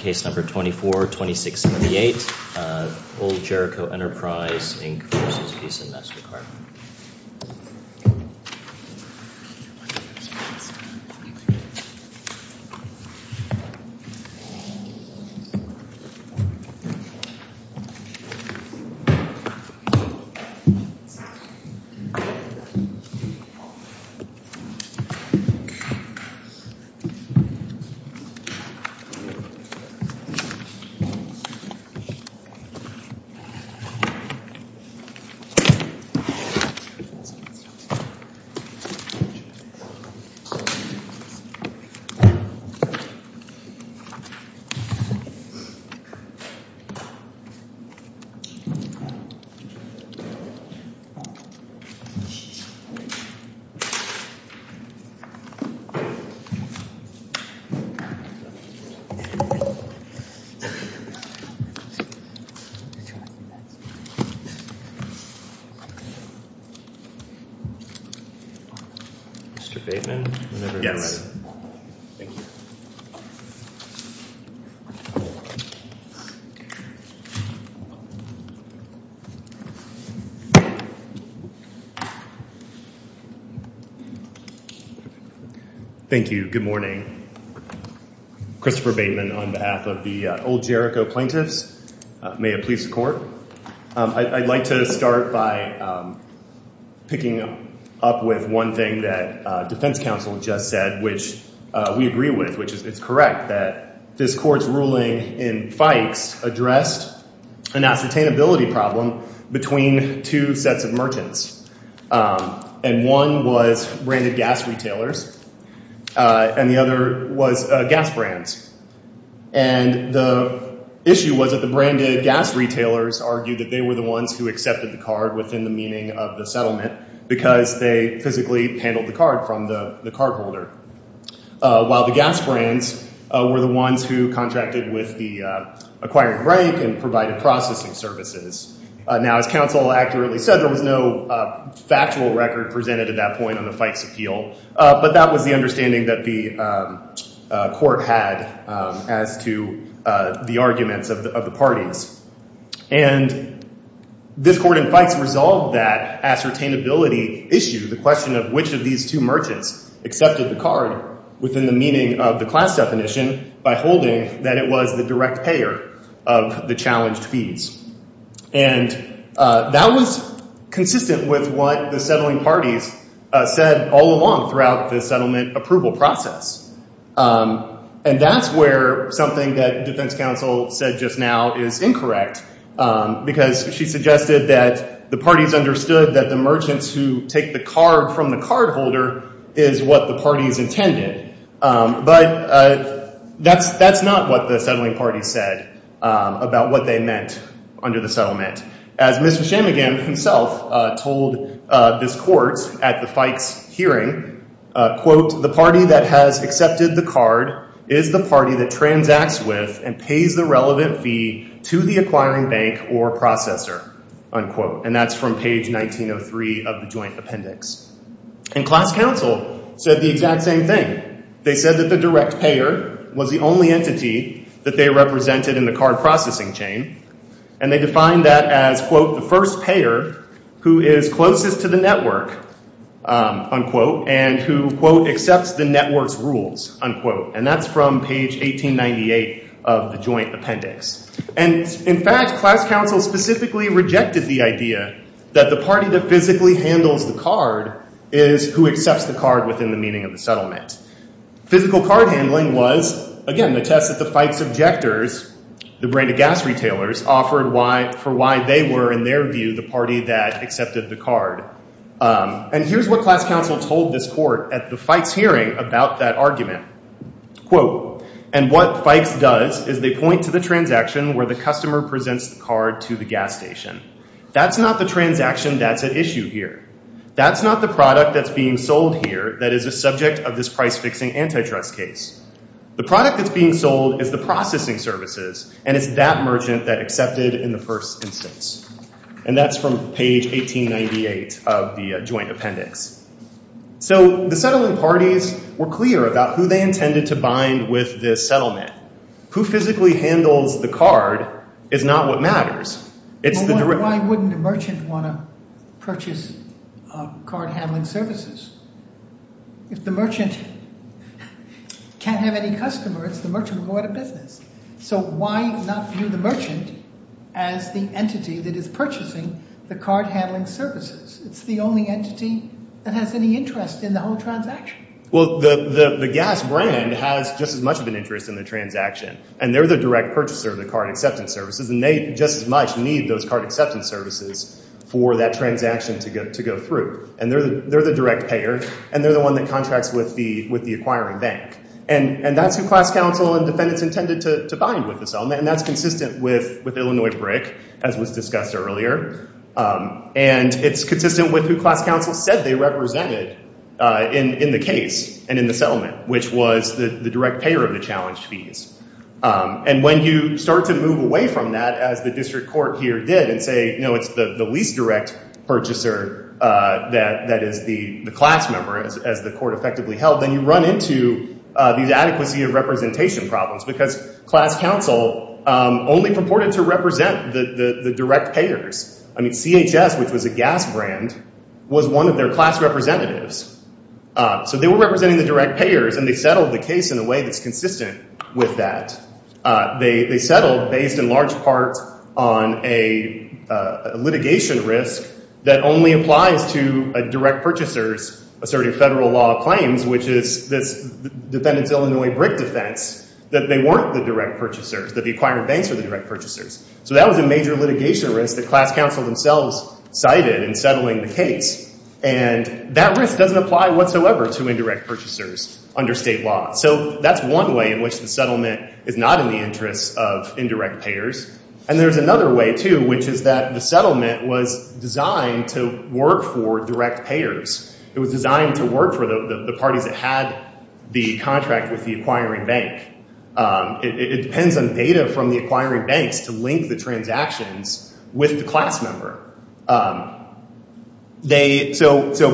Case number 242678, Old Jericho Enterprise, Inc. v. Visa MasterCard. Mr. Bateman, whenever you're ready. Thank you. Good morning. Christopher Bateman on behalf of the Old Jericho Plaintiffs. May it please the Court. I'd like to start by picking up with one thing that defense counsel just said, which we agree with, which is correct, that this Court's ruling in Fikes addressed an ascertainability problem between two sets of merchants. And one was branded gas retailers, and the other was gas brands. And the issue was that the branded gas retailers argued that they were the ones who accepted the card within the meaning of the settlement because they physically handled the card from the cardholder, while the gas brands were the ones who contracted with the acquired rank and provided processing services. Now, as counsel accurately said, there was no factual record presented at that point on the Fikes appeal, but that was the understanding that the Court had as to the arguments of the parties. And this Court in Fikes resolved that ascertainability issue, the question of which of these two merchants accepted the card within the meaning of the class definition by holding that it was the direct payer of the challenged fees. And that was consistent with what the settling parties said all along throughout the settlement approval process. And that's where something that defense counsel said just now is incorrect because she suggested that the parties understood that the merchants who take the card from the cardholder is what the parties intended. But that's not what the settling parties said about what they meant under the settlement. As Mr. Shamagen himself told this Court at the Fikes hearing, quote, the party that has accepted the card is the party that transacts with and pays the relevant fee to the acquiring bank or processor, unquote. And that's from page 1903 of the joint appendix. And class counsel said the exact same thing. They said that the direct payer was the only entity that they represented in the card processing chain. And they defined that as, quote, the first payer who is closest to the network, unquote, and who, quote, accepts the network's rules, unquote. And that's from page 1898 of the joint appendix. And in fact, class counsel specifically rejected the idea that the party that physically handles the card is who accepts the card within the meaning of the settlement. Physical card handling was, again, the test that the Fikes objectors, the brand of gas retailers, offered for why they were, in their view, the party that accepted the card. And here's what class counsel told this Court at the Fikes hearing about that argument. Quote, and what Fikes does is they point to the transaction where the customer presents the card to the gas station. That's not the transaction that's at issue here. That's not the product that's being sold here that is a subject of this price-fixing antitrust case. The product that's being sold is the processing services, and it's that merchant that accepted in the first instance. And that's from page 1898 of the joint appendix. So the settling parties were clear about who they intended to bind with this settlement. Who physically handles the card is not what matters. It's the direct— But why wouldn't a merchant want to purchase card handling services? If the merchant can't have any customers, the merchant would go out of business. So why not view the merchant as the entity that is purchasing the card handling services? It's the only entity that has any interest in the whole transaction. Well, the gas brand has just as much of an interest in the transaction, and they're the direct purchaser of the card acceptance services, and they just as much need those card acceptance services for that transaction to go through. And they're the direct payer, and they're the one that contracts with the acquiring bank. And that's who class counsel and defendants intended to bind with this settlement, and that's consistent with Illinois BRIC, as was discussed earlier. And it's consistent with who class counsel said they represented in the case and in the settlement, which was the direct payer of the challenge fees. And when you start to move away from that, as the district court here did, and say, you know, it's the least direct purchaser that is the class member, as the court effectively held, then you run into these adequacy of representation problems, because class counsel only purported to represent the direct payers. I mean, CHS, which was a gas brand, was one of their class representatives. So they were representing the direct payers, and they settled the case in a way that's consistent with that. They settled based in large part on a litigation risk that only applies to a direct purchaser's asserting federal law claims, which is this defendant's Illinois BRIC defense, that they weren't the direct purchasers, that the acquiring banks were the direct purchasers. So that was a major litigation risk that class counsel themselves cited in settling the case. And that risk doesn't apply whatsoever to indirect purchasers under state law. So that's one way in which the settlement is not in the interest of indirect payers. And there's another way, too, which is that the settlement was designed to work for direct payers. It was designed to work for the parties that had the contract with the acquiring bank. It depends on data from the acquiring banks to link the transactions with the class member. So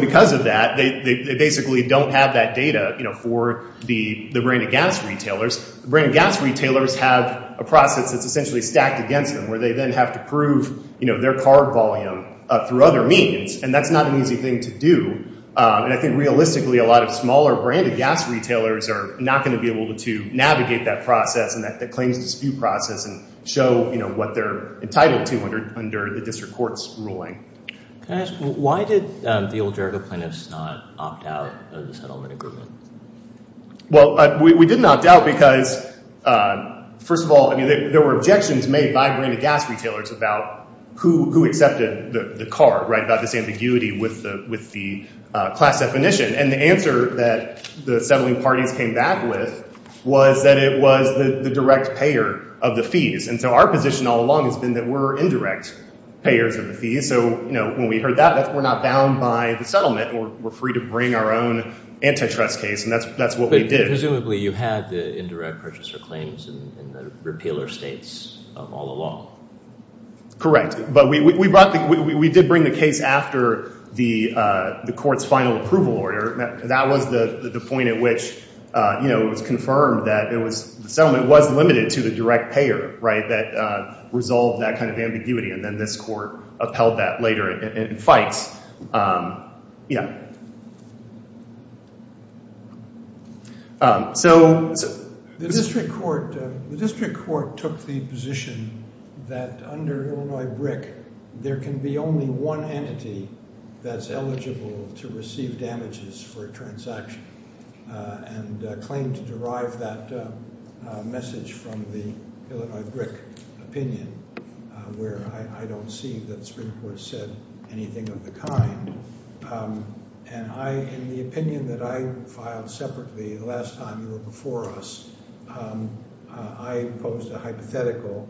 because of that, they basically don't have that data for the brand of gas retailers. The brand of gas retailers have a process that's essentially stacked against them, where they then have to prove their card volume through other means. And that's not an easy thing to do. And I think realistically a lot of smaller brand of gas retailers are not going to be able to navigate that process and that claims dispute process and show what they're entitled to under the district court's ruling. Can I ask, why did the Old Jericho plaintiffs not opt out of the settlement agreement? Well, we did not opt out because, first of all, there were objections made by brand of gas retailers about who accepted the card, about this ambiguity with the class definition. And the answer that the settling parties came back with was that it was the direct payer of the fees. And so our position all along has been that we're indirect payers of the fees. So when we heard that, we're not bound by the settlement. We're free to bring our own antitrust case, and that's what we did. Presumably you had the indirect purchaser claims in the repealer states all along. Correct. But we did bring the case after the court's final approval order. That was the point at which it was confirmed that the settlement was limited to the direct payer that resolved that kind of ambiguity. And then this court upheld that later in fights. Yeah. The district court took the position that under Illinois BRIC there can be only one entity that's eligible to receive damages for a transaction and claimed to derive that message from the Illinois BRIC opinion where I don't see that the district court said anything of the kind. And in the opinion that I filed separately the last time you were before us, I imposed a hypothetical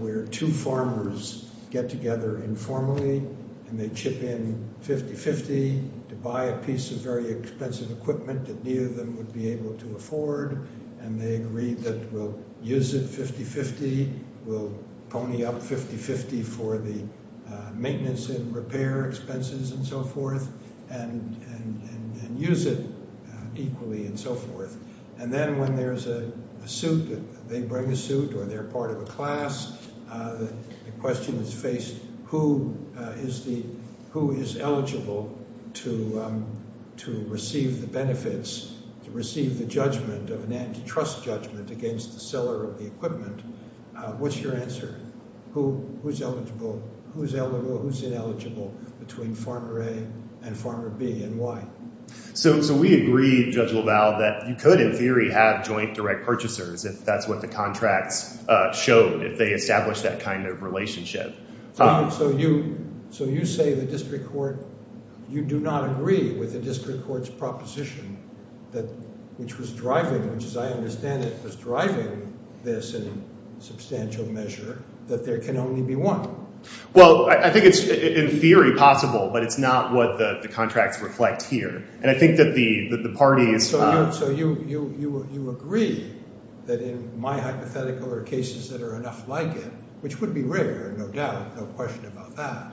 where two farmers get together informally and they chip in 50-50 to buy a piece of very expensive equipment that neither of them would be able to afford, and they agreed that we'll use it 50-50, we'll pony up 50-50 for the maintenance and repair expenses and so forth, and use it equally and so forth. And then when there's a suit, they bring a suit or they're part of a class, the question is faced, who is eligible to receive the benefits, to receive the judgment of an antitrust judgment against the seller of the equipment? What's your answer? Who's eligible, who's eligible, who's ineligible between Farmer A and Farmer B and why? So we agreed, Judge LaValle, that you could in theory have joint direct purchasers if that's what the contracts showed, if they established that kind of relationship. So you say the district court, you do not agree with the district court's proposition that which was driving, which as I understand it was driving this in substantial measure, that there can only be one. Well, I think it's in theory possible, but it's not what the contracts reflect here. And I think that the parties… So you agree that in my hypothetical there are cases that are enough like it, which would be rare, no doubt, no question about that,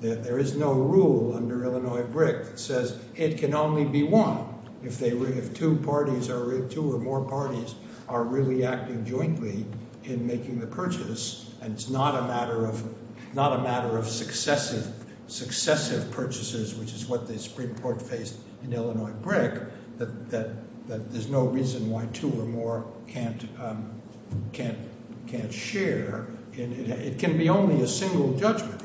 that there is no rule under Illinois BRIC that says it can only be one. If two or more parties are really acting jointly in making the purchase and it's not a matter of successive purchases, which is what the Supreme Court faced in Illinois BRIC, that there's no reason why two or more can't share. It can be only a single judgment.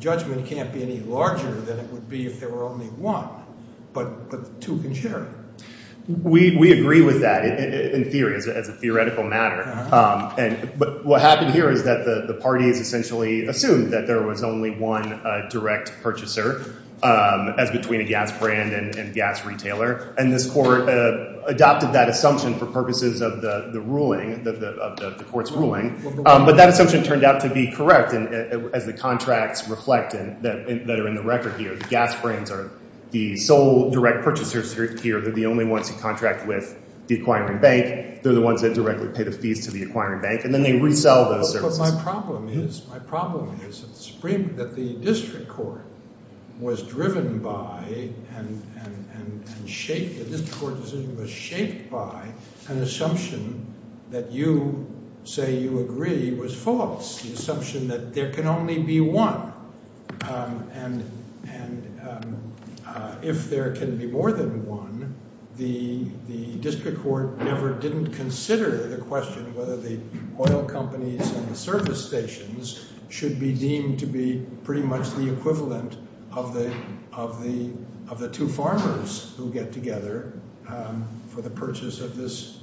Judgment can't be any larger than it would be if there were only one, but two can share. We agree with that in theory, as a theoretical matter. But what happened here is that the parties essentially assumed that there was only one direct purchaser as between a gas brand and gas retailer. And this court adopted that assumption for purposes of the ruling, of the court's ruling. But that assumption turned out to be correct as the contracts reflect that are in the record here. The gas brands are the sole direct purchasers here. They're the only ones who contract with the acquiring bank. They're the ones that directly pay the fees to the acquiring bank, and then they resell those services. My problem is that the district court was driven by and shaped – the district court decision was shaped by an assumption that you say you agree was false. The assumption that there can only be one. And if there can be more than one, the district court never didn't consider the question whether the oil companies and the service stations should be deemed to be pretty much the equivalent of the two farmers who get together for the purchase of this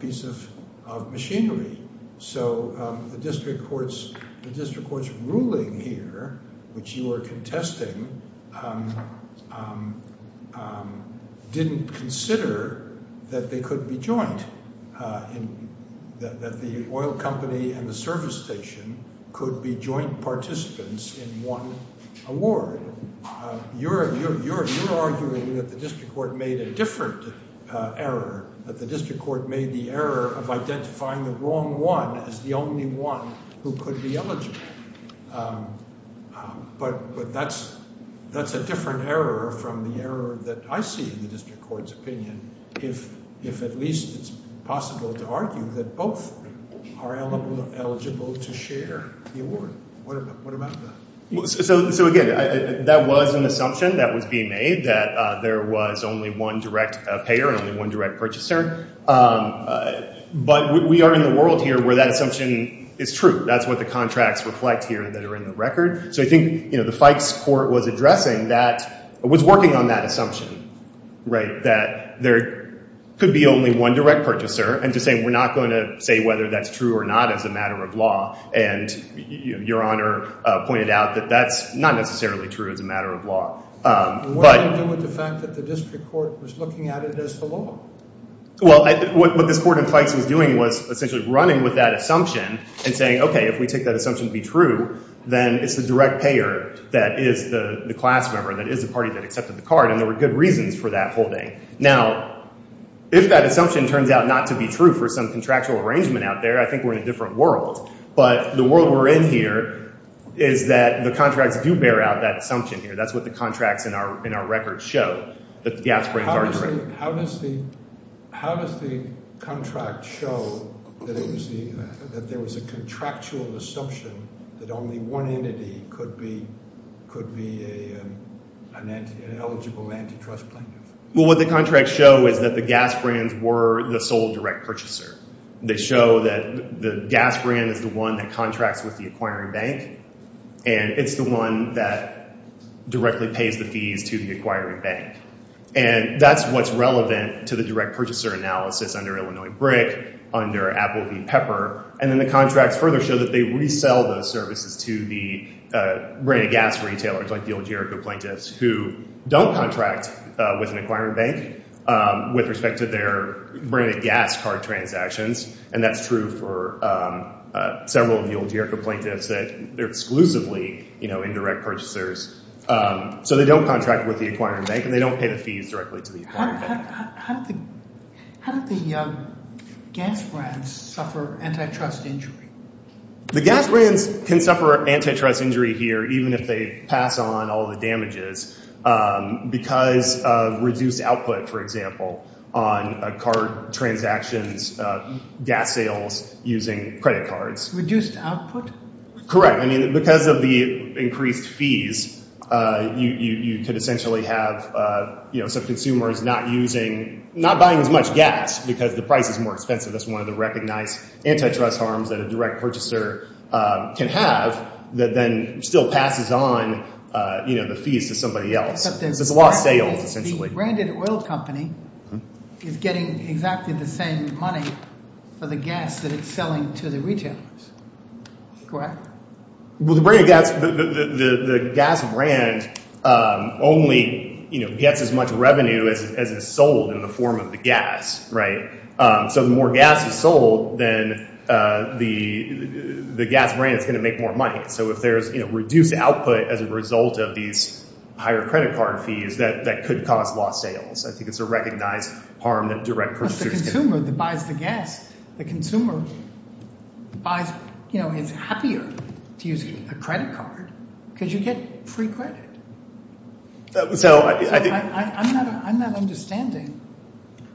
piece of machinery. So the district court's ruling here, which you are contesting, didn't consider that they could be joint, that the oil company and the service station could be joint participants in one award. You're arguing that the district court made a different error, that the district court made the error of identifying the wrong one as the only one who could be eligible. But that's a different error from the error that I see in the district court's opinion if at least it's possible to argue that both are eligible to share the award. What about that? So, again, that was an assumption that was being made, that there was only one direct payer and only one direct purchaser. But we are in the world here where that assumption is true. That's what the contracts reflect here that are in the record. So I think the Fikes court was addressing that – was working on that assumption, right, that there could be only one direct purchaser and to say we're not going to say whether that's true or not as a matter of law. And Your Honor pointed out that that's not necessarily true as a matter of law. What did it do with the fact that the district court was looking at it as the law? Well, what this court in Fikes was doing was essentially running with that assumption and saying, okay, if we take that assumption to be true, then it's the direct payer that is the class member, that is the party that accepted the card. And there were good reasons for that holding. Now, if that assumption turns out not to be true for some contractual arrangement out there, I think we're in a different world. But the world we're in here is that the contracts do bear out that assumption here. That's what the contracts in our record show. How does the contract show that there was a contractual assumption that only one entity could be an eligible antitrust plaintiff? Well, what the contracts show is that the gas brands were the sole direct purchaser. They show that the gas brand is the one that contracts with the acquiring bank, and it's the one that directly pays the fees to the acquiring bank. And that's what's relevant to the direct purchaser analysis under Illinois BRIC, under Applebee Pepper. And then the contracts further show that they resell those services to the branded gas retailers, like the Oljerico plaintiffs, who don't contract with an acquiring bank with respect to their branded gas card transactions. And that's true for several of the Oljerico plaintiffs that are exclusively indirect purchasers. So they don't contract with the acquiring bank, and they don't pay the fees directly to the acquiring bank. How do the gas brands suffer antitrust injury? The gas brands can suffer antitrust injury here, even if they pass on all the damages, because of reduced output, for example, on card transactions, gas sales using credit cards. Reduced output? Correct. I mean, because of the increased fees, you could essentially have, you know, some consumers not using – not buying as much gas because the price is more expensive. That's one of the recognized antitrust harms that a direct purchaser can have that then still passes on, you know, the fees to somebody else. So it's a lot of sales, essentially. The branded oil company is getting exactly the same money for the gas that it's selling to the retailers, correct? Well, the gas brand only gets as much revenue as is sold in the form of the gas, right? So the more gas is sold, then the gas brand is going to make more money. So if there's reduced output as a result of these higher credit card fees, that could cause lost sales. I think it's a recognized harm that direct purchasers can have. But the consumer that buys the gas, the consumer buys – you know, is happier to use a credit card because you get free credit. So I think – I'm not understanding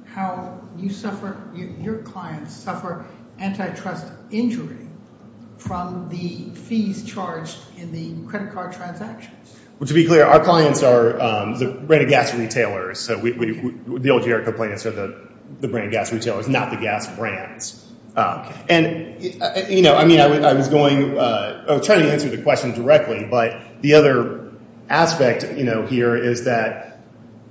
how you suffer – your clients suffer antitrust injury from the fees charged in the credit card transactions. Well, to be clear, our clients are the branded gas retailers. So the old JR complaints are the branded gas retailers, not the gas brands. And, you know, I mean I was going – I was trying to answer the question directly. But the other aspect here is that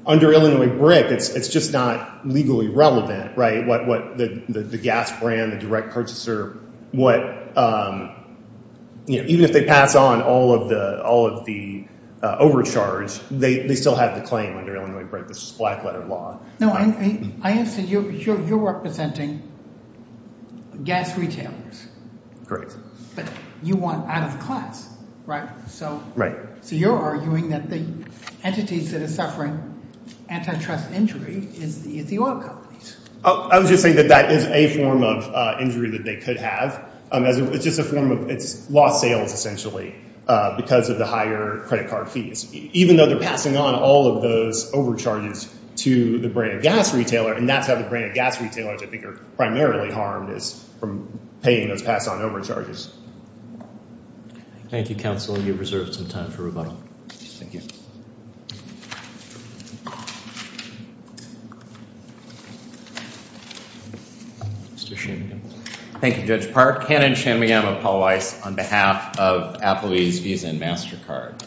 under Illinois BRIC, it's just not legally relevant, right? What the gas brand, the direct purchaser, what – even if they pass on all of the overcharge, they still have the claim under Illinois BRIC. This is black-letter law. No, I answer – you're representing gas retailers. Correct. But you want out-of-class, right? Right. So you're arguing that the entities that are suffering antitrust injury is the oil companies. I was just saying that that is a form of injury that they could have. It's just a form of – it's lost sales essentially because of the higher credit card fees. Even though they're passing on all of those overcharges to the branded gas retailer, and that's how the branded gas retailers I think are primarily harmed is from paying those pass-on overcharges. Thank you, counsel. You have reserved some time for rebuttal. Thank you. Mr. Shanmugam. Thank you, Judge Park. Hannon Shanmugam of Paul Weiss on behalf of Applebee's Visa and MasterCard.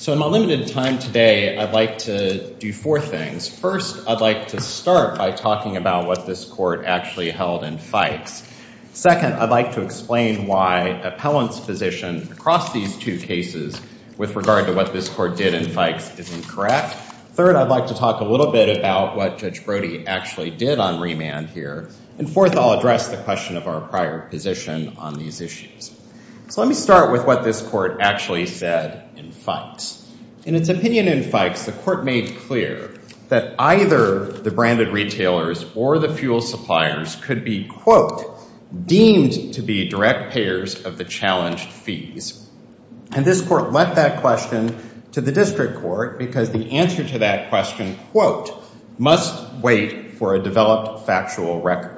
So in my limited time today, I'd like to do four things. First, I'd like to start by talking about what this court actually held in Fikes. Second, I'd like to explain why appellant's position across these two cases with regard to what this court did in Fikes isn't correct. Third, I'd like to talk a little bit about what Judge Brody actually did on remand here. And fourth, I'll address the question of our prior position on these issues. So let me start with what this court actually said in Fikes. In its opinion in Fikes, the court made clear that either the branded retailers or the fuel suppliers could be, quote, deemed to be direct payers of the challenged fees. And this court left that question to the district court because the answer to that question, quote, must wait for a developed factual record.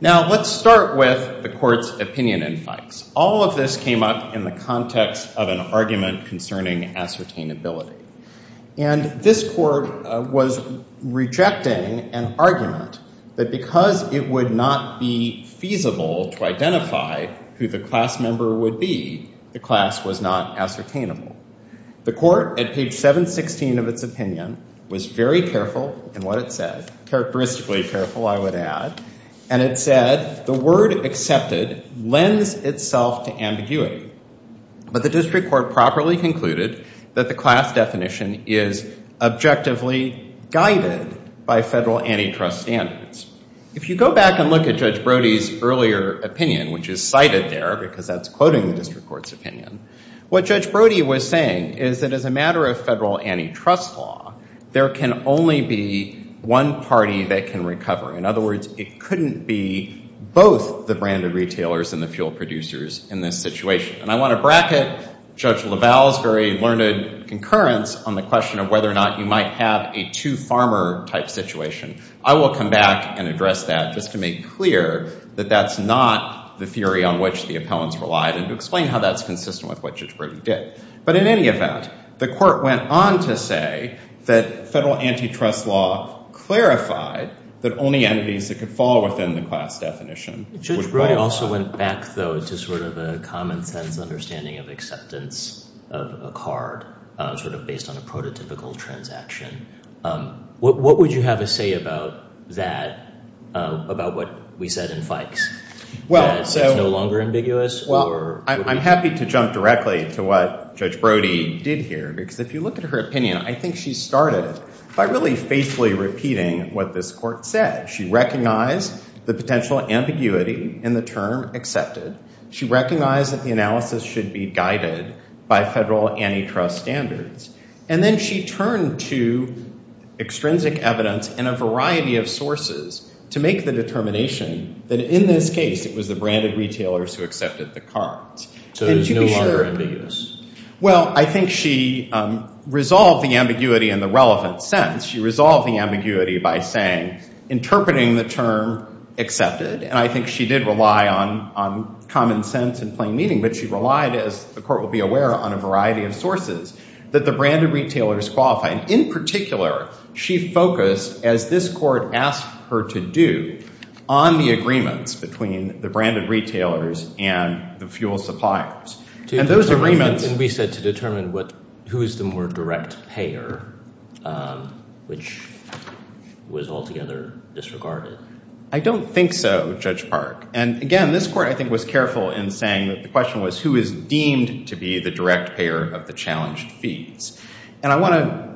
Now, let's start with the court's opinion in Fikes. All of this came up in the context of an argument concerning ascertainability. And this court was rejecting an argument that because it would not be feasible to identify who the class member would be, the class was not ascertainable. The court, at page 716 of its opinion, was very careful in what it said. Characteristically careful, I would add. And it said the word accepted lends itself to ambiguity. But the district court properly concluded that the class definition is objectively guided by federal antitrust standards. If you go back and look at Judge Brody's earlier opinion, which is cited there because that's quoting the district court's opinion, what Judge Brody was saying is that as a matter of federal antitrust law, there can only be one party that can recover. In other words, it couldn't be both the branded retailers and the fuel producers in this situation. And I want to bracket Judge LaValle's very learned concurrence on the question of whether or not you might have a two-farmer type situation. I will come back and address that just to make clear that that's not the theory on which the appellants relied and to explain how that's consistent with what Judge Brody did. But in any event, the court went on to say that federal antitrust law clarified that only entities that could fall within the class definition. Judge Brody also went back, though, to sort of a common-sense understanding of acceptance of a card sort of based on a prototypical transaction. What would you have to say about that, about what we said in Fikes? Well, I'm happy to jump directly to what Judge Brody did here, because if you look at her opinion, I think she started by really faithfully repeating what this court said. She recognized the potential ambiguity in the term accepted. She recognized that the analysis should be guided by federal antitrust standards. And then she turned to extrinsic evidence and a variety of sources to make the determination that, in this case, it was the branded retailers who accepted the cards. So it was no longer ambiguous? Well, I think she resolved the ambiguity in the relevant sense. She resolved the ambiguity by saying, interpreting the term accepted, and I think she did rely on common sense and plain meaning, but she relied, as the court will be aware, on a variety of sources that the branded retailers qualified. In particular, she focused, as this court asked her to do, on the agreements between the branded retailers and the fuel suppliers. And those agreements— And we said to determine who is the more direct payer, which was altogether disregarded. I don't think so, Judge Park. And again, this court, I think, was careful in saying that the question was who is deemed to be the direct payer of the challenged fees. And I want to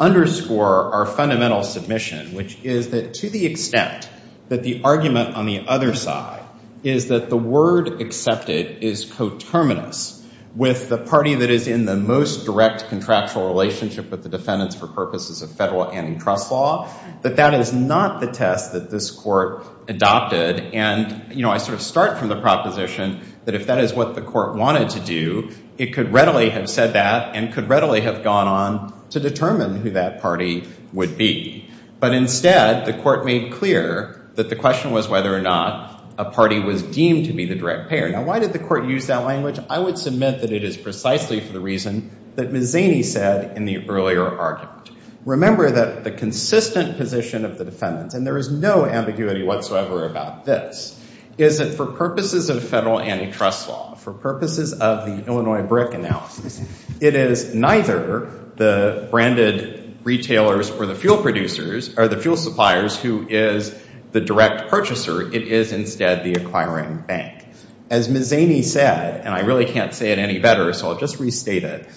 underscore our fundamental submission, which is that to the extent that the argument on the other side is that the word accepted is coterminous with the party that is in the most direct contractual relationship with the defendants for purposes of federal antitrust law, that that is not the test that this court adopted. And, you know, I sort of start from the proposition that if that is what the court wanted to do, it could readily have said that and could readily have gone on to determine who that party would be. But instead, the court made clear that the question was whether or not a party was deemed to be the direct payer. Now, why did the court use that language? I would submit that it is precisely for the reason that Ms. Zaney said in the earlier argument. Remember that the consistent position of the defendants, and there is no ambiguity whatsoever about this, is that for purposes of federal antitrust law, for purposes of the Illinois BRIC analysis, it is neither the branded retailers or the fuel producers or the fuel suppliers who is the direct purchaser. It is instead the acquiring bank. As Ms. Zaney said, and I really can't say it any better, so I'll just restate it,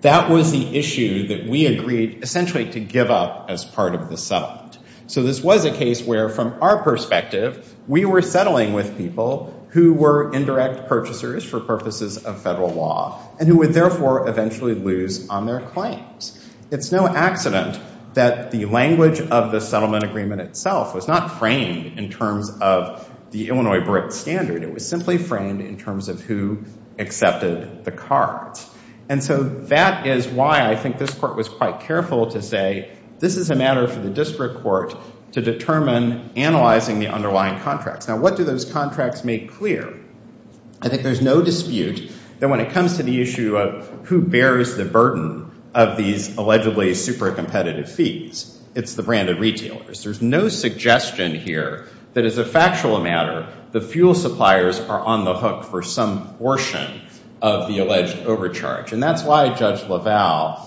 that was the issue that we agreed essentially to give up as part of the settlement. So this was a case where, from our perspective, we were settling with people who were indirect purchasers for purposes of federal law and who would therefore eventually lose on their claims. It's no accident that the language of the settlement agreement itself was not framed in terms of the Illinois BRIC standard. It was simply framed in terms of who accepted the cards. And so that is why I think this court was quite careful to say this is a matter for the district court to determine analyzing the underlying contracts. Now, what do those contracts make clear? I think there's no dispute that when it comes to the issue of who bears the burden of these allegedly super competitive fees, it's the branded retailers. There's no suggestion here that as a factual matter, the fuel suppliers are on the hook for some portion of the alleged overcharge. And that's why Judge LaValle,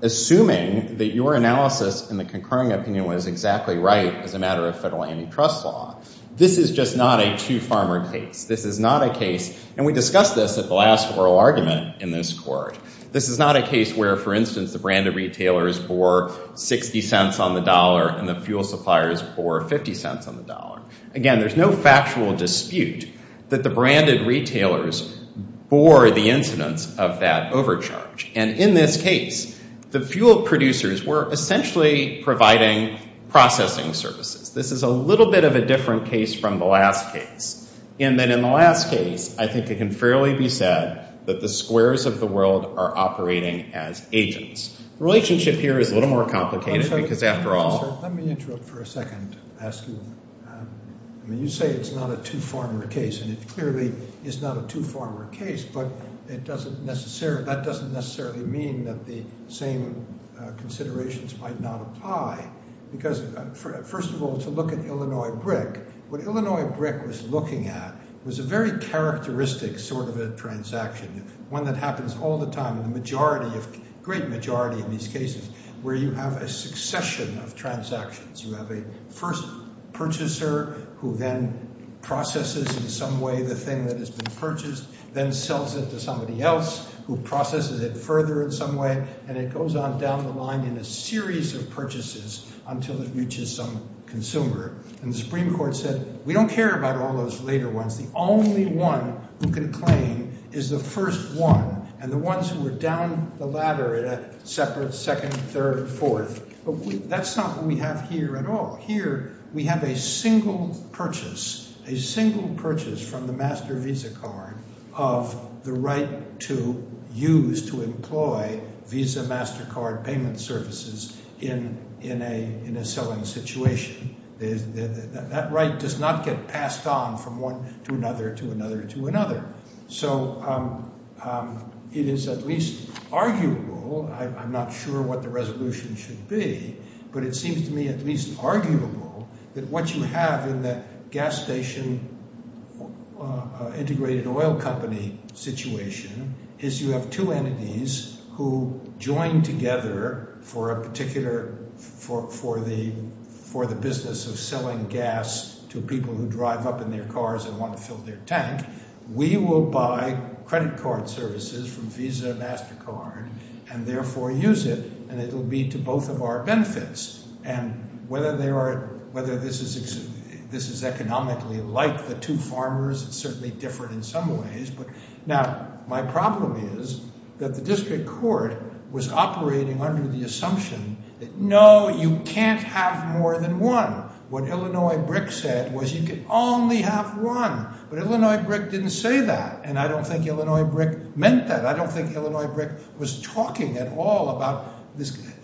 assuming that your analysis in the concurring opinion was exactly right as a matter of federal antitrust law, this is just not a two-farmer case. This is not a case, and we discussed this at the last oral argument in this court, this is not a case where, for instance, the branded retailers bore $0.60 on the dollar and the fuel suppliers bore $0.50 on the dollar. Again, there's no factual dispute that the branded retailers bore the incidence of that overcharge. And in this case, the fuel producers were essentially providing processing services. This is a little bit of a different case from the last case in that in the last case, I think it can fairly be said that the squares of the world are operating as agents. The relationship here is a little more complicated because after all- Let me interrupt for a second. I mean, you say it's not a two-farmer case, and it clearly is not a two-farmer case, but that doesn't necessarily mean that the same considerations might not apply. Because first of all, to look at Illinois Brick, what Illinois Brick was looking at was a very characteristic sort of a transaction, one that happens all the time in the majority of- great majority of these cases, where you have a succession of transactions. You have a first purchaser who then processes in some way the thing that has been purchased, then sells it to somebody else who processes it further in some way, and it goes on down the line in a series of purchases until it reaches some consumer. And the Supreme Court said, we don't care about all those later ones. The only one who can claim is the first one, and the ones who are down the ladder at a separate second, third, and fourth. That's not what we have here at all. Here we have a single purchase, a single purchase from the master Visa card, of the right to use, to employ Visa MasterCard payment services in a selling situation. That right does not get passed on from one to another to another to another. So it is at least arguable, I'm not sure what the resolution should be, but it seems to me at least arguable that what you have in the gas station integrated oil company situation is you have two entities who join together for a particular – for the business of selling gas to people who drive up in their cars and want to fill their tank. We will buy credit card services from Visa MasterCard and therefore use it, and it will be to both of our benefits. And whether this is economically like the two farmers, it's certainly different in some ways. Now, my problem is that the district court was operating under the assumption that, no, you can't have more than one. What Illinois BRIC said was you can only have one. But Illinois BRIC didn't say that, and I don't think Illinois BRIC meant that. I don't think Illinois BRIC was talking at all about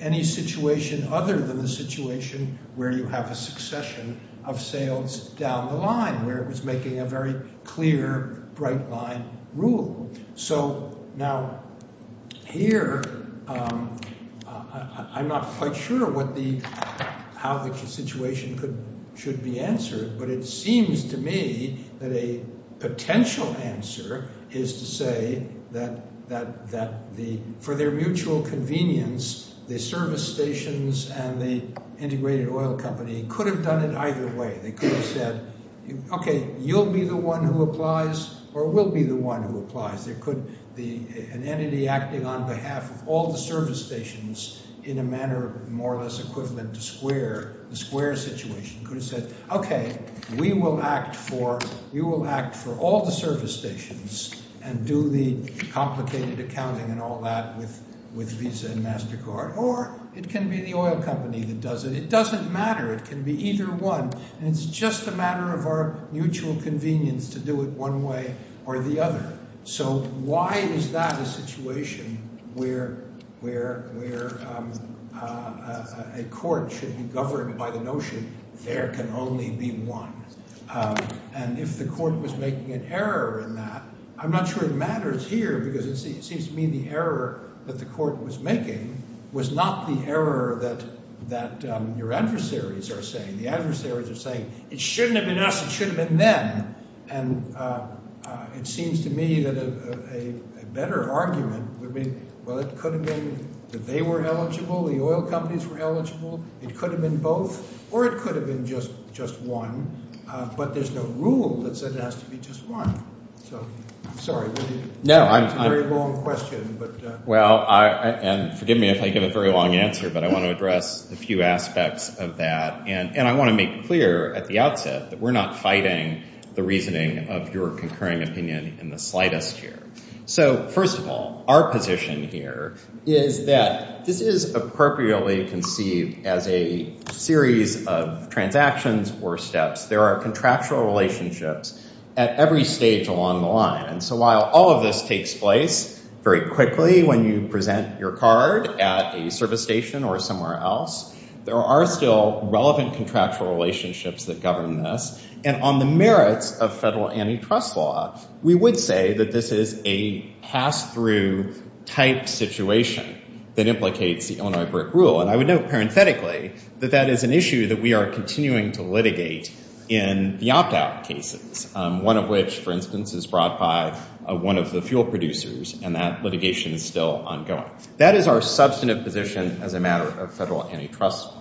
any situation other than the situation where you have a succession of sales down the line, where it was making a very clear bright line rule. So now here I'm not quite sure what the – how the situation should be answered, but it seems to me that a potential answer is to say that for their mutual convenience, the service stations and the integrated oil company could have done it either way. They could have said, okay, you'll be the one who applies or we'll be the one who applies. An entity acting on behalf of all the service stations in a manner more or less equivalent to Square, the Square situation, could have said, okay, we will act for – you will act for all the service stations and do the complicated accounting and all that with Visa and MasterCard, or it can be the oil company that does it. It doesn't matter. It can be either one, and it's just a matter of our mutual convenience to do it one way or the other. So why is that a situation where a court should be governed by the notion there can only be one? And if the court was making an error in that, I'm not sure it matters here because it seems to me the error that the court was making was not the error that your adversaries are saying. The adversaries are saying it shouldn't have been us. It should have been them, and it seems to me that a better argument would be, well, it could have been that they were eligible, the oil companies were eligible. It could have been both or it could have been just one, but there's no rule that says it has to be just one. So I'm sorry. It's a very long question. Well, and forgive me if I give a very long answer, but I want to address a few aspects of that, and I want to make clear at the outset that we're not fighting the reasoning of your concurring opinion in the slightest here. So first of all, our position here is that this is appropriately conceived as a series of transactions or steps. There are contractual relationships at every stage along the line. So while all of this takes place very quickly when you present your card at a service station or somewhere else, there are still relevant contractual relationships that govern this, and on the merits of federal antitrust law, we would say that this is a pass-through type situation that implicates the Illinois BRIC rule, and I would note parenthetically that that is an issue that we are continuing to litigate in the opt-out cases, one of which, for instance, is brought by one of the fuel producers, and that litigation is still ongoing. That is our substantive position as a matter of federal antitrust law.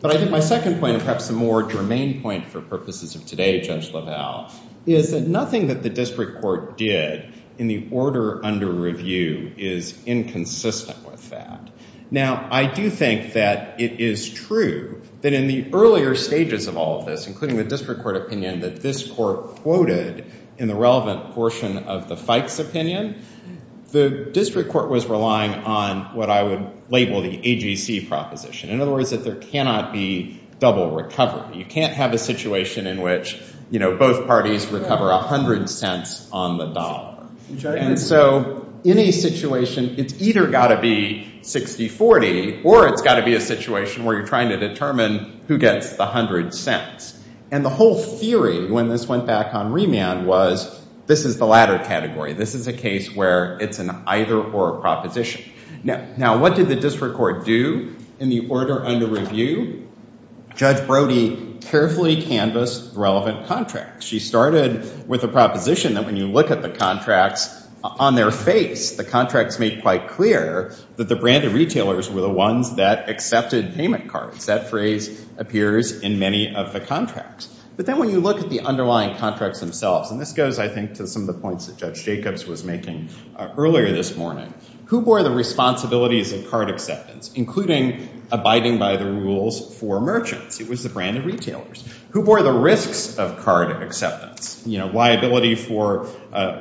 But I think my second point and perhaps the more germane point for purposes of today, Judge LaValle, is that nothing that the district court did in the order under review is inconsistent with that. Now, I do think that it is true that in the earlier stages of all of this, including the district court opinion, that this court quoted in the relevant portion of the Fikes opinion, the district court was relying on what I would label the AGC proposition. In other words, that there cannot be double recovery. You can't have a situation in which, you know, both parties recover 100 cents on the dollar. And so in a situation, it's either got to be 60-40, or it's got to be a situation where you're trying to determine who gets the 100 cents. And the whole theory, when this went back on remand, was this is the latter category. This is a case where it's an either or proposition. Now, what did the district court do in the order under review? Judge Brody carefully canvassed relevant contracts. She started with a proposition that when you look at the contracts on their face, the contracts make quite clear that the branded retailers were the ones that accepted payment cards. That phrase appears in many of the contracts. But then when you look at the underlying contracts themselves, and this goes, I think, to some of the points that Judge Jacobs was making earlier this morning, who bore the responsibilities of card acceptance, including abiding by the rules for merchants? It was the branded retailers. Who bore the risks of card acceptance? You know, liability for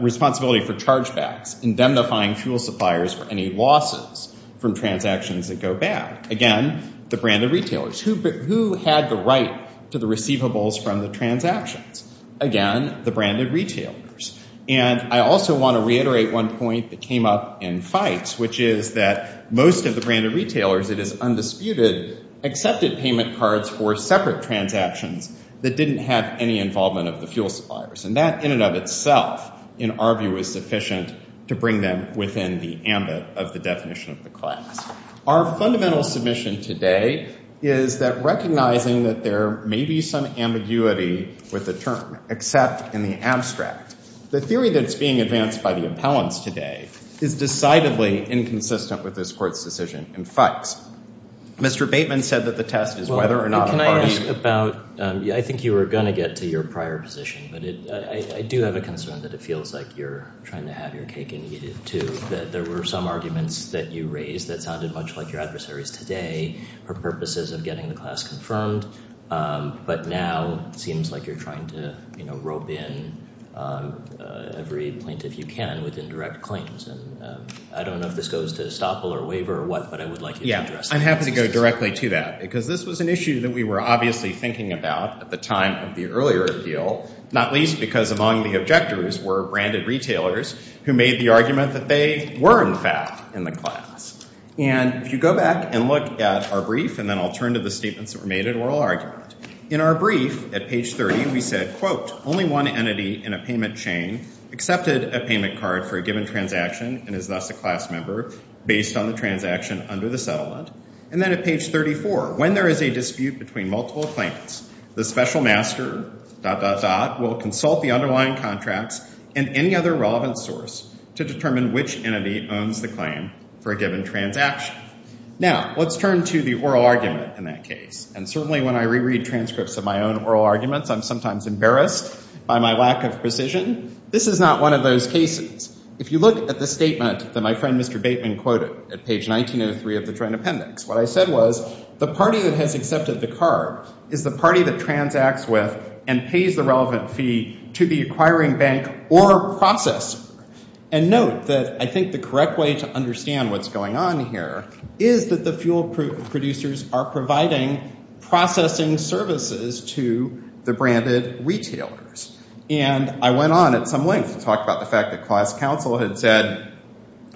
responsibility for chargebacks, indemnifying fuel suppliers for any losses from transactions that go bad. Again, the branded retailers. Who had the right to the receivables from the transactions? Again, the branded retailers. And I also want to reiterate one point that came up in fights, which is that most of the branded retailers, it is undisputed, accepted payment cards for separate transactions that didn't have any involvement of the fuel suppliers. And that in and of itself, in our view, was sufficient to bring them within the ambit of the definition of the class. Our fundamental submission today is that recognizing that there may be some ambiguity with the term, except in the abstract, the theory that's being advanced by the appellants today is decidedly inconsistent with this court's decision in fights. Mr. Bateman said that the test is whether or not a party- Well, can I ask about, I think you were going to get to your prior position, but I do have a concern that it feels like you're trying to have your cake and eat it, too. I think that there were some arguments that you raised that sounded much like your adversaries today for purposes of getting the class confirmed, but now it seems like you're trying to rope in every plaintiff you can within direct claims. I don't know if this goes to estoppel or waiver or what, but I would like you to address that. I'm happy to go directly to that, because this was an issue that we were obviously thinking about at the time of the earlier appeal, not least because among the objectors were branded retailers who made the argument that they were, in fact, in the class. And if you go back and look at our brief, and then I'll turn to the statements that were made in oral argument, in our brief at page 30 we said, quote, only one entity in a payment chain accepted a payment card for a given transaction and is thus a class member based on the transaction under the settlement. And then at page 34, when there is a dispute between multiple plaintiffs, the special master, dot, dot, dot, will consult the underlying contracts and any other relevant source to determine which entity owns the claim for a given transaction. Now, let's turn to the oral argument in that case, and certainly when I reread transcripts of my own oral arguments, I'm sometimes embarrassed by my lack of precision. This is not one of those cases. If you look at the statement that my friend Mr. Bateman quoted at page 1903 of the Joint Appendix, what I said was the party that has accepted the card is the party that transacts with and pays the relevant fee to the acquiring bank or processor. And note that I think the correct way to understand what's going on here is that the fuel producers are providing processing services to the branded retailers. And I went on at some length to talk about the fact that class counsel had said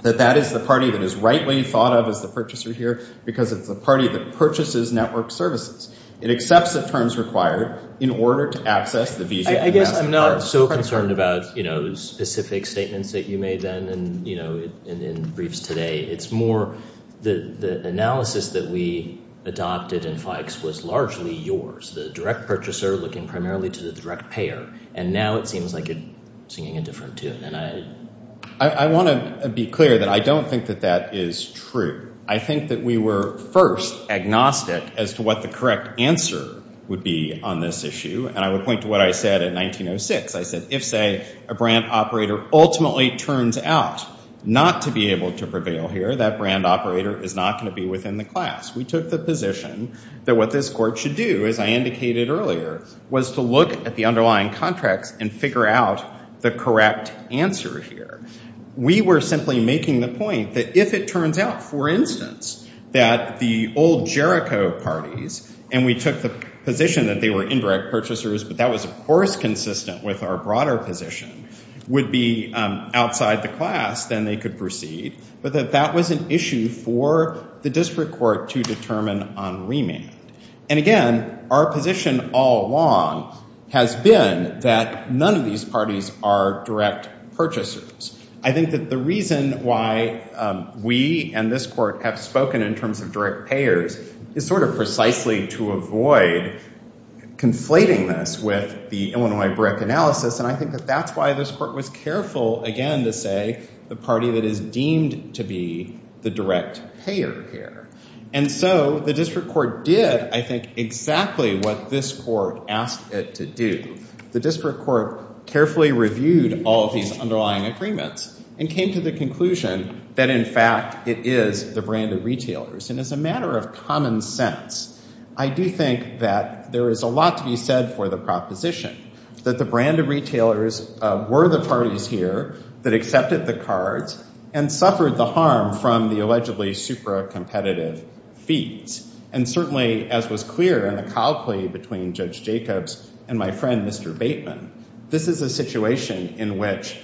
that that is the party that is rightly thought of as the purchaser here because it's the party that purchases network services. It accepts the terms required in order to access the visa. I guess I'm not so concerned about, you know, specific statements that you made then and, you know, in briefs today. It's more the analysis that we adopted in FIACS was largely yours, the direct purchaser looking primarily to the direct payer, and now it seems like you're singing a different tune. I want to be clear that I don't think that that is true. I think that we were first agnostic as to what the correct answer would be on this issue, and I would point to what I said in 1906. I said if, say, a brand operator ultimately turns out not to be able to prevail here, that brand operator is not going to be within the class. We took the position that what this court should do, as I indicated earlier, was to look at the underlying contracts and figure out the correct answer here. We were simply making the point that if it turns out, for instance, that the old Jericho parties, and we took the position that they were indirect purchasers, but that was, of course, consistent with our broader position, would be outside the class, then they could proceed, but that that was an issue for the district court to determine on remand. And again, our position all along has been that none of these parties are direct purchasers. I think that the reason why we and this court have spoken in terms of direct payers is sort of precisely to avoid conflating this with the Illinois brick analysis, and I think that that's why this court was careful, again, to say the party that is deemed to be the direct payer here. And so the district court did, I think, exactly what this court asked it to do. The district court carefully reviewed all of these underlying agreements and came to the conclusion that, in fact, it is the branded retailers. And as a matter of common sense, I do think that there is a lot to be said for the proposition, that the branded retailers were the parties here that accepted the cards and suffered the harm from the allegedly super competitive fees. And certainly, as was clear in the cow play between Judge Jacobs and my friend, Mr. Bateman, this is a situation in which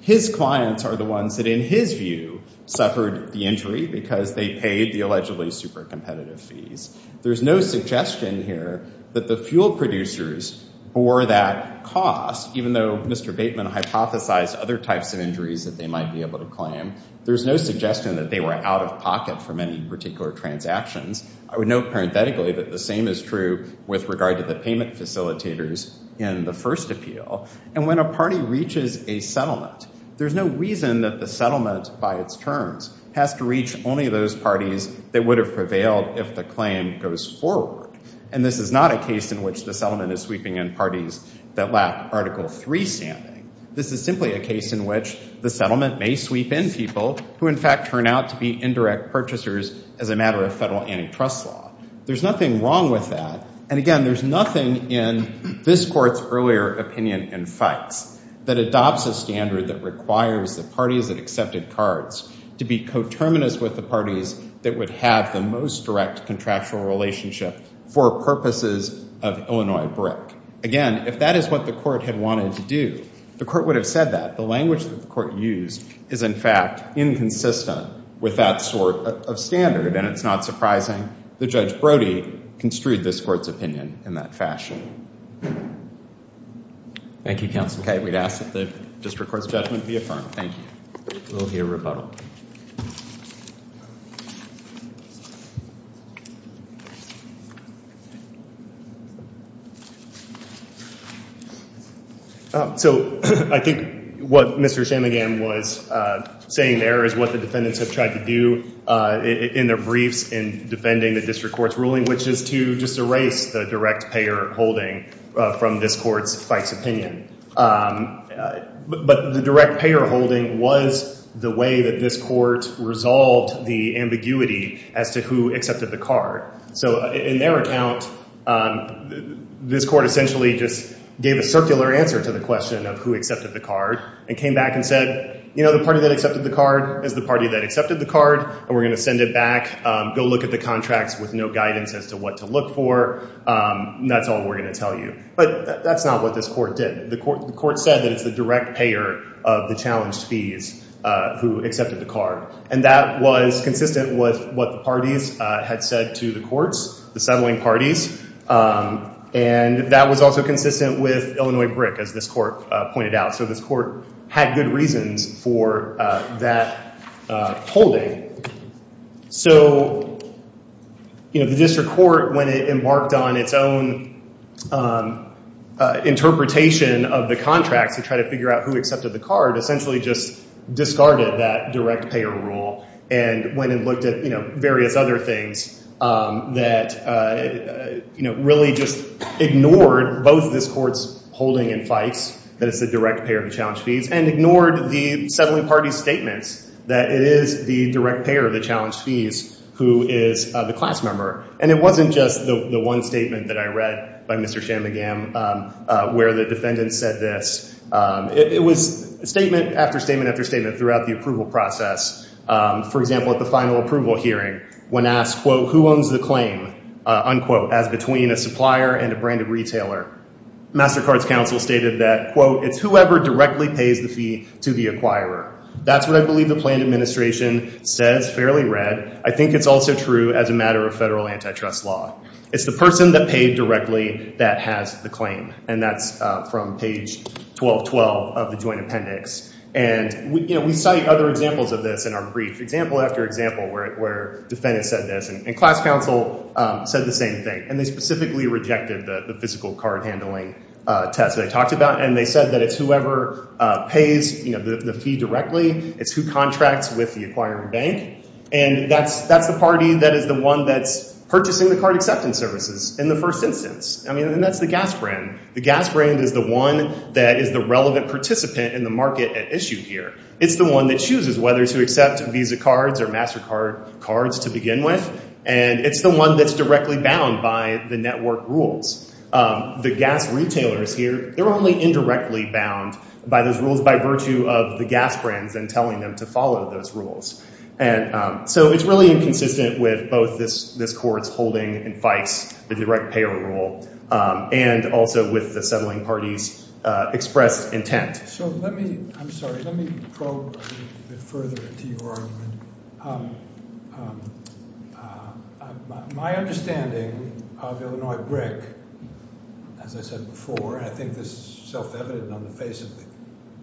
his clients are the ones that, in his view, suffered the injury because they paid the allegedly super competitive fees. There's no suggestion here that the fuel producers bore that cost, even though Mr. Bateman hypothesized other types of injuries that they might be able to claim. There's no suggestion that they were out of pocket for many particular transactions. I would note parenthetically that the same is true with regard to the payment facilitators in the first appeal. And when a party reaches a settlement, there's no reason that the settlement, by its terms, has to reach only those parties that would have prevailed if the claim goes forward. And this is not a case in which the settlement is sweeping in parties that lack Article III standing. This is simply a case in which the settlement may sweep in people who, in fact, turn out to be indirect purchasers as a matter of federal antitrust law. There's nothing wrong with that. And again, there's nothing in this court's earlier opinion and facts that adopts a standard that requires the parties that accepted cards to be coterminous with the parties that would have the most direct contractual relationship for purposes of Illinois BRIC. Again, if that is what the court had wanted to do, the court would have said that. The language that the court used is, in fact, inconsistent with that sort of standard, and it's not surprising that Judge Brody construed this court's opinion in that fashion. Thank you, Counsel K. We'd ask that the district court's judgment be affirmed. Thank you. We'll hear rebuttal. So I think what Mr. Chamigan was saying there is what the defendants have tried to do in their briefs in defending the district court's ruling, which is to just erase the direct payer holding from this court's facts opinion. But the direct payer holding was the way that this court resolved the ambiguity as to who accepted the card. So in their account, this court essentially just gave a circular answer to the question of who accepted the card and came back and said, you know, the party that accepted the card is the party that accepted the card, and we're going to send it back. Go look at the contracts with no guidance as to what to look for. That's all we're going to tell you. But that's not what this court did. The court said that it's the direct payer of the challenged fees who accepted the card, and that was consistent with what the parties had said to the courts, the settling parties, and that was also consistent with Illinois BRIC, as this court pointed out. So this court had good reasons for that holding. So, you know, the district court, when it embarked on its own interpretation of the contracts to try to figure out who accepted the card, essentially just discarded that direct payer rule and went and looked at, you know, various other things that, you know, really just ignored both this court's holding and fights, that it's the direct payer of the challenged fees, and ignored the settling party's statements that it is the direct payer of the challenged fees who is the class member. And it wasn't just the one statement that I read by Mr. Shanmugam where the defendant said this. It was statement after statement after statement throughout the approval process. For example, at the final approval hearing, when asked, quote, who owns the claim, unquote, as between a supplier and a branded retailer, MasterCard's counsel stated that, quote, it's whoever directly pays the fee to the acquirer. That's what I believe the planned administration says fairly read. I think it's also true as a matter of federal antitrust law. It's the person that paid directly that has the claim, and that's from page 1212 of the joint appendix. And, you know, we cite other examples of this in our brief, example after example, where defendants said this, and class counsel said the same thing, and they specifically rejected the physical card handling test that I talked about, and they said that it's whoever pays, you know, the fee directly. It's who contracts with the acquiring bank, and that's the party that is the one that's purchasing the card acceptance services in the first instance. I mean, and that's the gas brand. The gas brand is the one that is the relevant participant in the market at issue here. It's the one that chooses whether to accept Visa cards or MasterCard cards to begin with, and it's the one that's directly bound by the network rules. The gas retailers here, they're only indirectly bound by those rules by virtue of the gas brands and telling them to follow those rules. And so it's really inconsistent with both this court's holding and FICE, the direct payer rule, and also with the settling party's expressed intent. So let me – I'm sorry, let me probe a little bit further into your argument. My understanding of Illinois BRIC, as I said before, and I think this is self-evident on the face of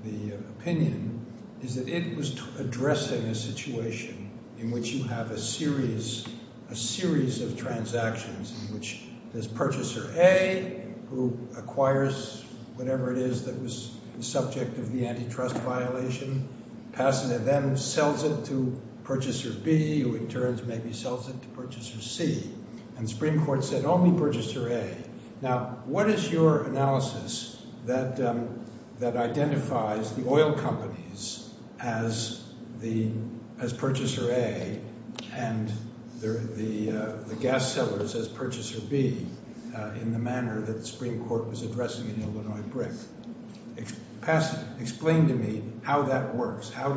the opinion, is that it was addressing a situation in which you have a series, a series of transactions in which there's purchaser A who acquires whatever it is that was the subject of the antitrust violation, passes it, then sells it to purchaser B who in turn maybe sells it to purchaser C. And the Supreme Court said only purchaser A. Now what is your analysis that identifies the oil companies as purchaser A and the gas sellers as purchaser B in the manner that the Supreme Court was addressing in Illinois BRIC? Explain to me how that works. How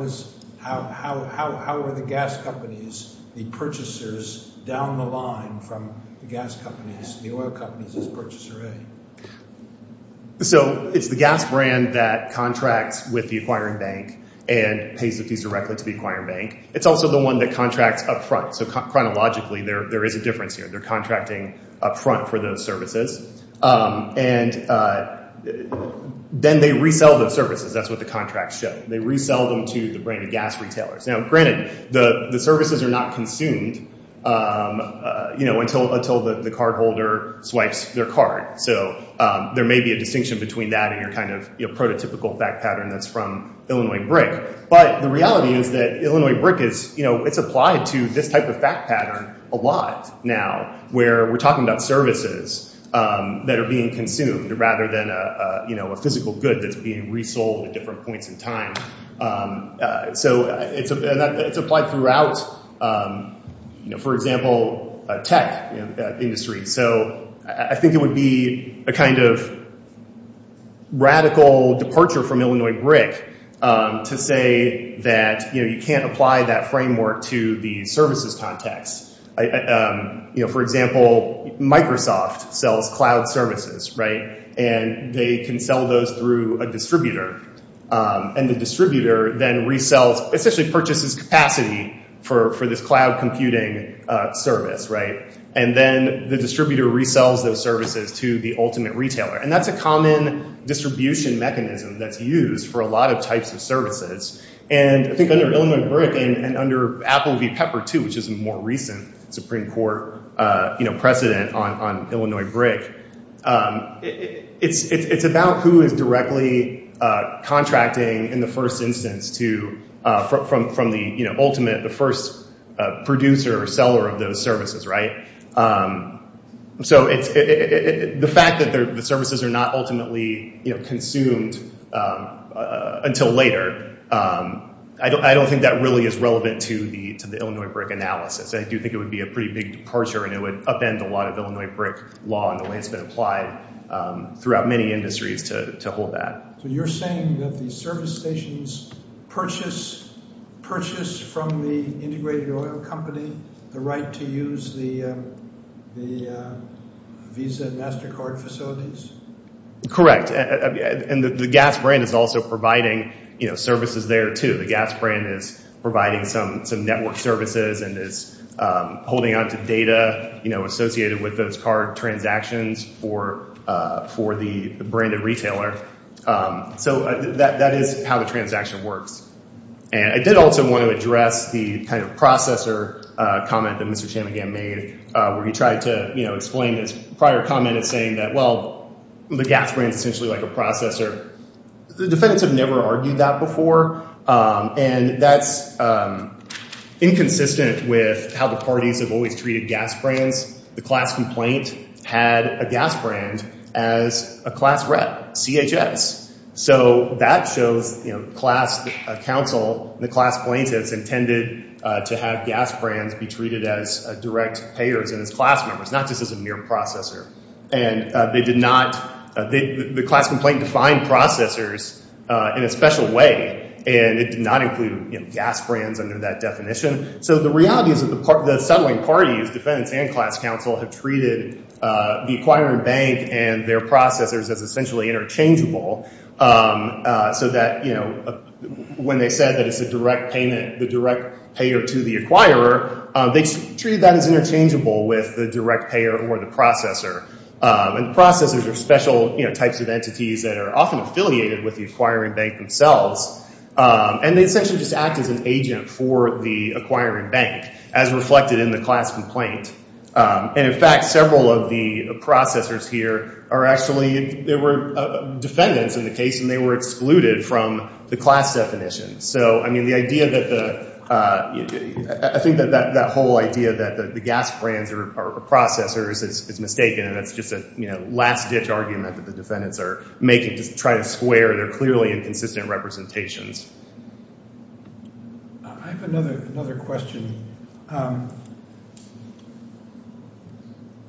are the gas companies the purchasers down the line from the gas companies, the oil companies, as purchaser A? So it's the gas brand that contracts with the acquiring bank and pays the fees directly to the acquiring bank. It's also the one that contracts up front. So chronologically there is a difference here. They're contracting up front for those services. And then they resell those services. That's what the contracts show. They resell them to the brand of gas retailers. Now granted, the services are not consumed until the cardholder swipes their card. So there may be a distinction between that and your kind of prototypical fact pattern that's from Illinois BRIC. But the reality is that Illinois BRIC is, you know, it's applied to this type of fact pattern a lot now, where we're talking about services that are being consumed rather than, you know, a physical good that's being resold at different points in time. So it's applied throughout, you know, for example, tech industry. So I think it would be a kind of radical departure from Illinois BRIC to say that, you know, you can't apply that framework to the services context. You know, for example, Microsoft sells cloud services, right? And they can sell those through a distributor. And the distributor then resells, essentially purchases capacity for this cloud computing service, right? And then the distributor resells those services to the ultimate retailer. And that's a common distribution mechanism that's used for a lot of types of services. And I think under Illinois BRIC and under Apple v. Pepper, too, which is a more recent Supreme Court, you know, precedent on Illinois BRIC, it's about who is directly contracting in the first instance from the ultimate, the first producer or seller of those services, right? So the fact that the services are not ultimately consumed until later, I don't think that really is relevant to the Illinois BRIC analysis. I do think it would be a pretty big departure, and it would upend a lot of Illinois BRIC law and the way it's been applied throughout many industries to hold that. So you're saying that the service stations purchase from the integrated oil company the right to use the Visa and MasterCard facilities? Correct. And the gas brand is also providing, you know, services there, too. The gas brand is providing some network services and is holding on to data, you know, associated with those card transactions for the branded retailer. So that is how the transaction works. And I did also want to address the kind of processor comment that Mr. Chamigan made, where he tried to, you know, explain his prior comment in saying that, well, the gas brand is essentially like a processor. The defendants have never argued that before, and that's inconsistent with how the parties have always treated gas brands. The class complaint had a gas brand as a class rep, CHS. So that shows, you know, class counsel, the class plaintiffs, intended to have gas brands be treated as direct payers and as class members, not just as a mere processor. And they did not, the class complaint defined processors in a special way, and it did not include, you know, gas brands under that definition. So the reality is that the settling parties, defendants and class counsel, have treated the acquiring bank and their processors as essentially interchangeable, so that, you know, when they said that it's a direct payment, the direct payer to the acquirer, they treated that as interchangeable with the direct payer or the processor. And processors are special, you know, types of entities that are often affiliated with the acquiring bank themselves, and they essentially just act as an agent for the acquiring bank, as reflected in the class complaint. And, in fact, several of the processors here are actually, they were defendants in the case, and they were excluded from the class definition. So, I mean, the idea that the, I think that that whole idea that the gas brands are processors is mistaken, and it's just a, you know, last-ditch argument that the defendants are making to try to square their clearly inconsistent representations. I have another question.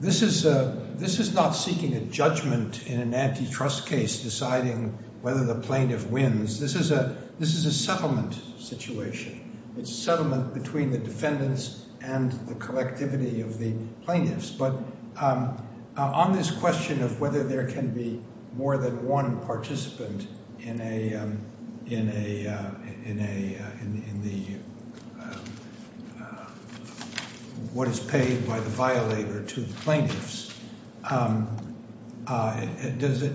This is not seeking a judgment in an antitrust case deciding whether the plaintiff wins. This is a settlement situation. It's a settlement between the defendants and the collectivity of the plaintiffs. But on this question of whether there can be more than one participant in a, in a, in the, what is paid by the violator to the plaintiffs, does it,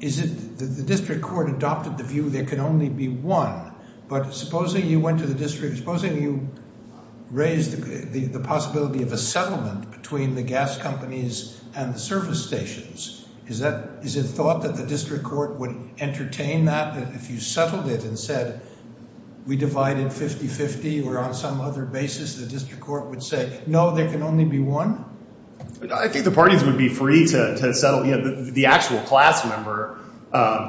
is it, the district court adopted the view there can only be one, but supposing you went to the district, supposing you raised the possibility of a settlement between the gas companies and the service stations, is that, is it thought that the district court would entertain that, that if you settled it and said, we divide it 50-50 or on some other basis, the district court would say, no, there can only be one? I think the parties would be free to settle. You know, the actual class member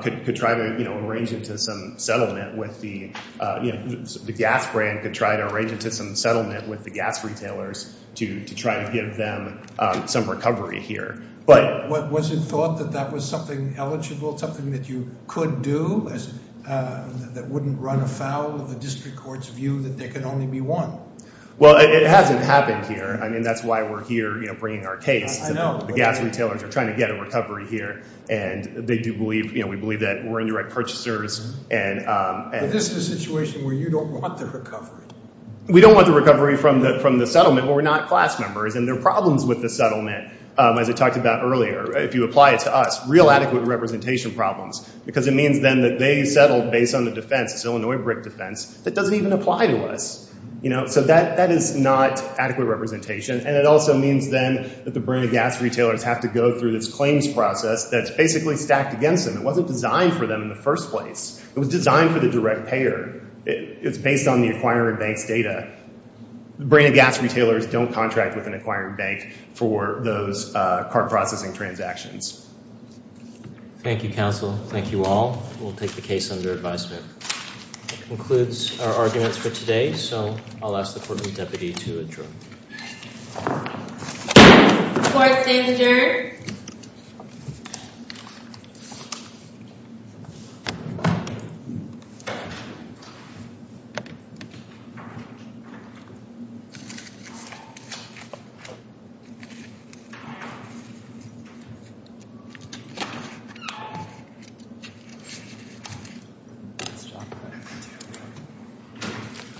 could try to, you know, arrange it to some settlement with the, you know, the gas brand could try to arrange it to some settlement with the gas retailers to try to give them some recovery here. But was it thought that that was something eligible, something that you could do, that wouldn't run afoul of the district court's view that there can only be one? Well, it hasn't happened here. I mean, that's why we're here, you know, bringing our case. I know. The gas retailers are trying to get a recovery here. And they do believe, you know, we believe that we're indirect purchasers. Is this a situation where you don't want the recovery? We don't want the recovery from the settlement. We're not class members. And their problems with the settlement, as I talked about earlier, if you apply it to us, real adequate representation problems, because it means then that they settled based on the defense, this Illinois brick defense, that doesn't even apply to us. You know, so that is not adequate representation. And it also means then that the Brenna Gas retailers have to go through this claims process that's basically stacked against them. It wasn't designed for them in the first place. It was designed for the direct payer. It's based on the acquiring bank's data. Brenna Gas retailers don't contract with an acquiring bank for those cart processing transactions. Thank you, counsel. Thank you all. We'll take the case under advisement. That concludes our arguments for today. So I'll ask the Courtroom Deputy to adjourn. Court is adjourned. Thank you.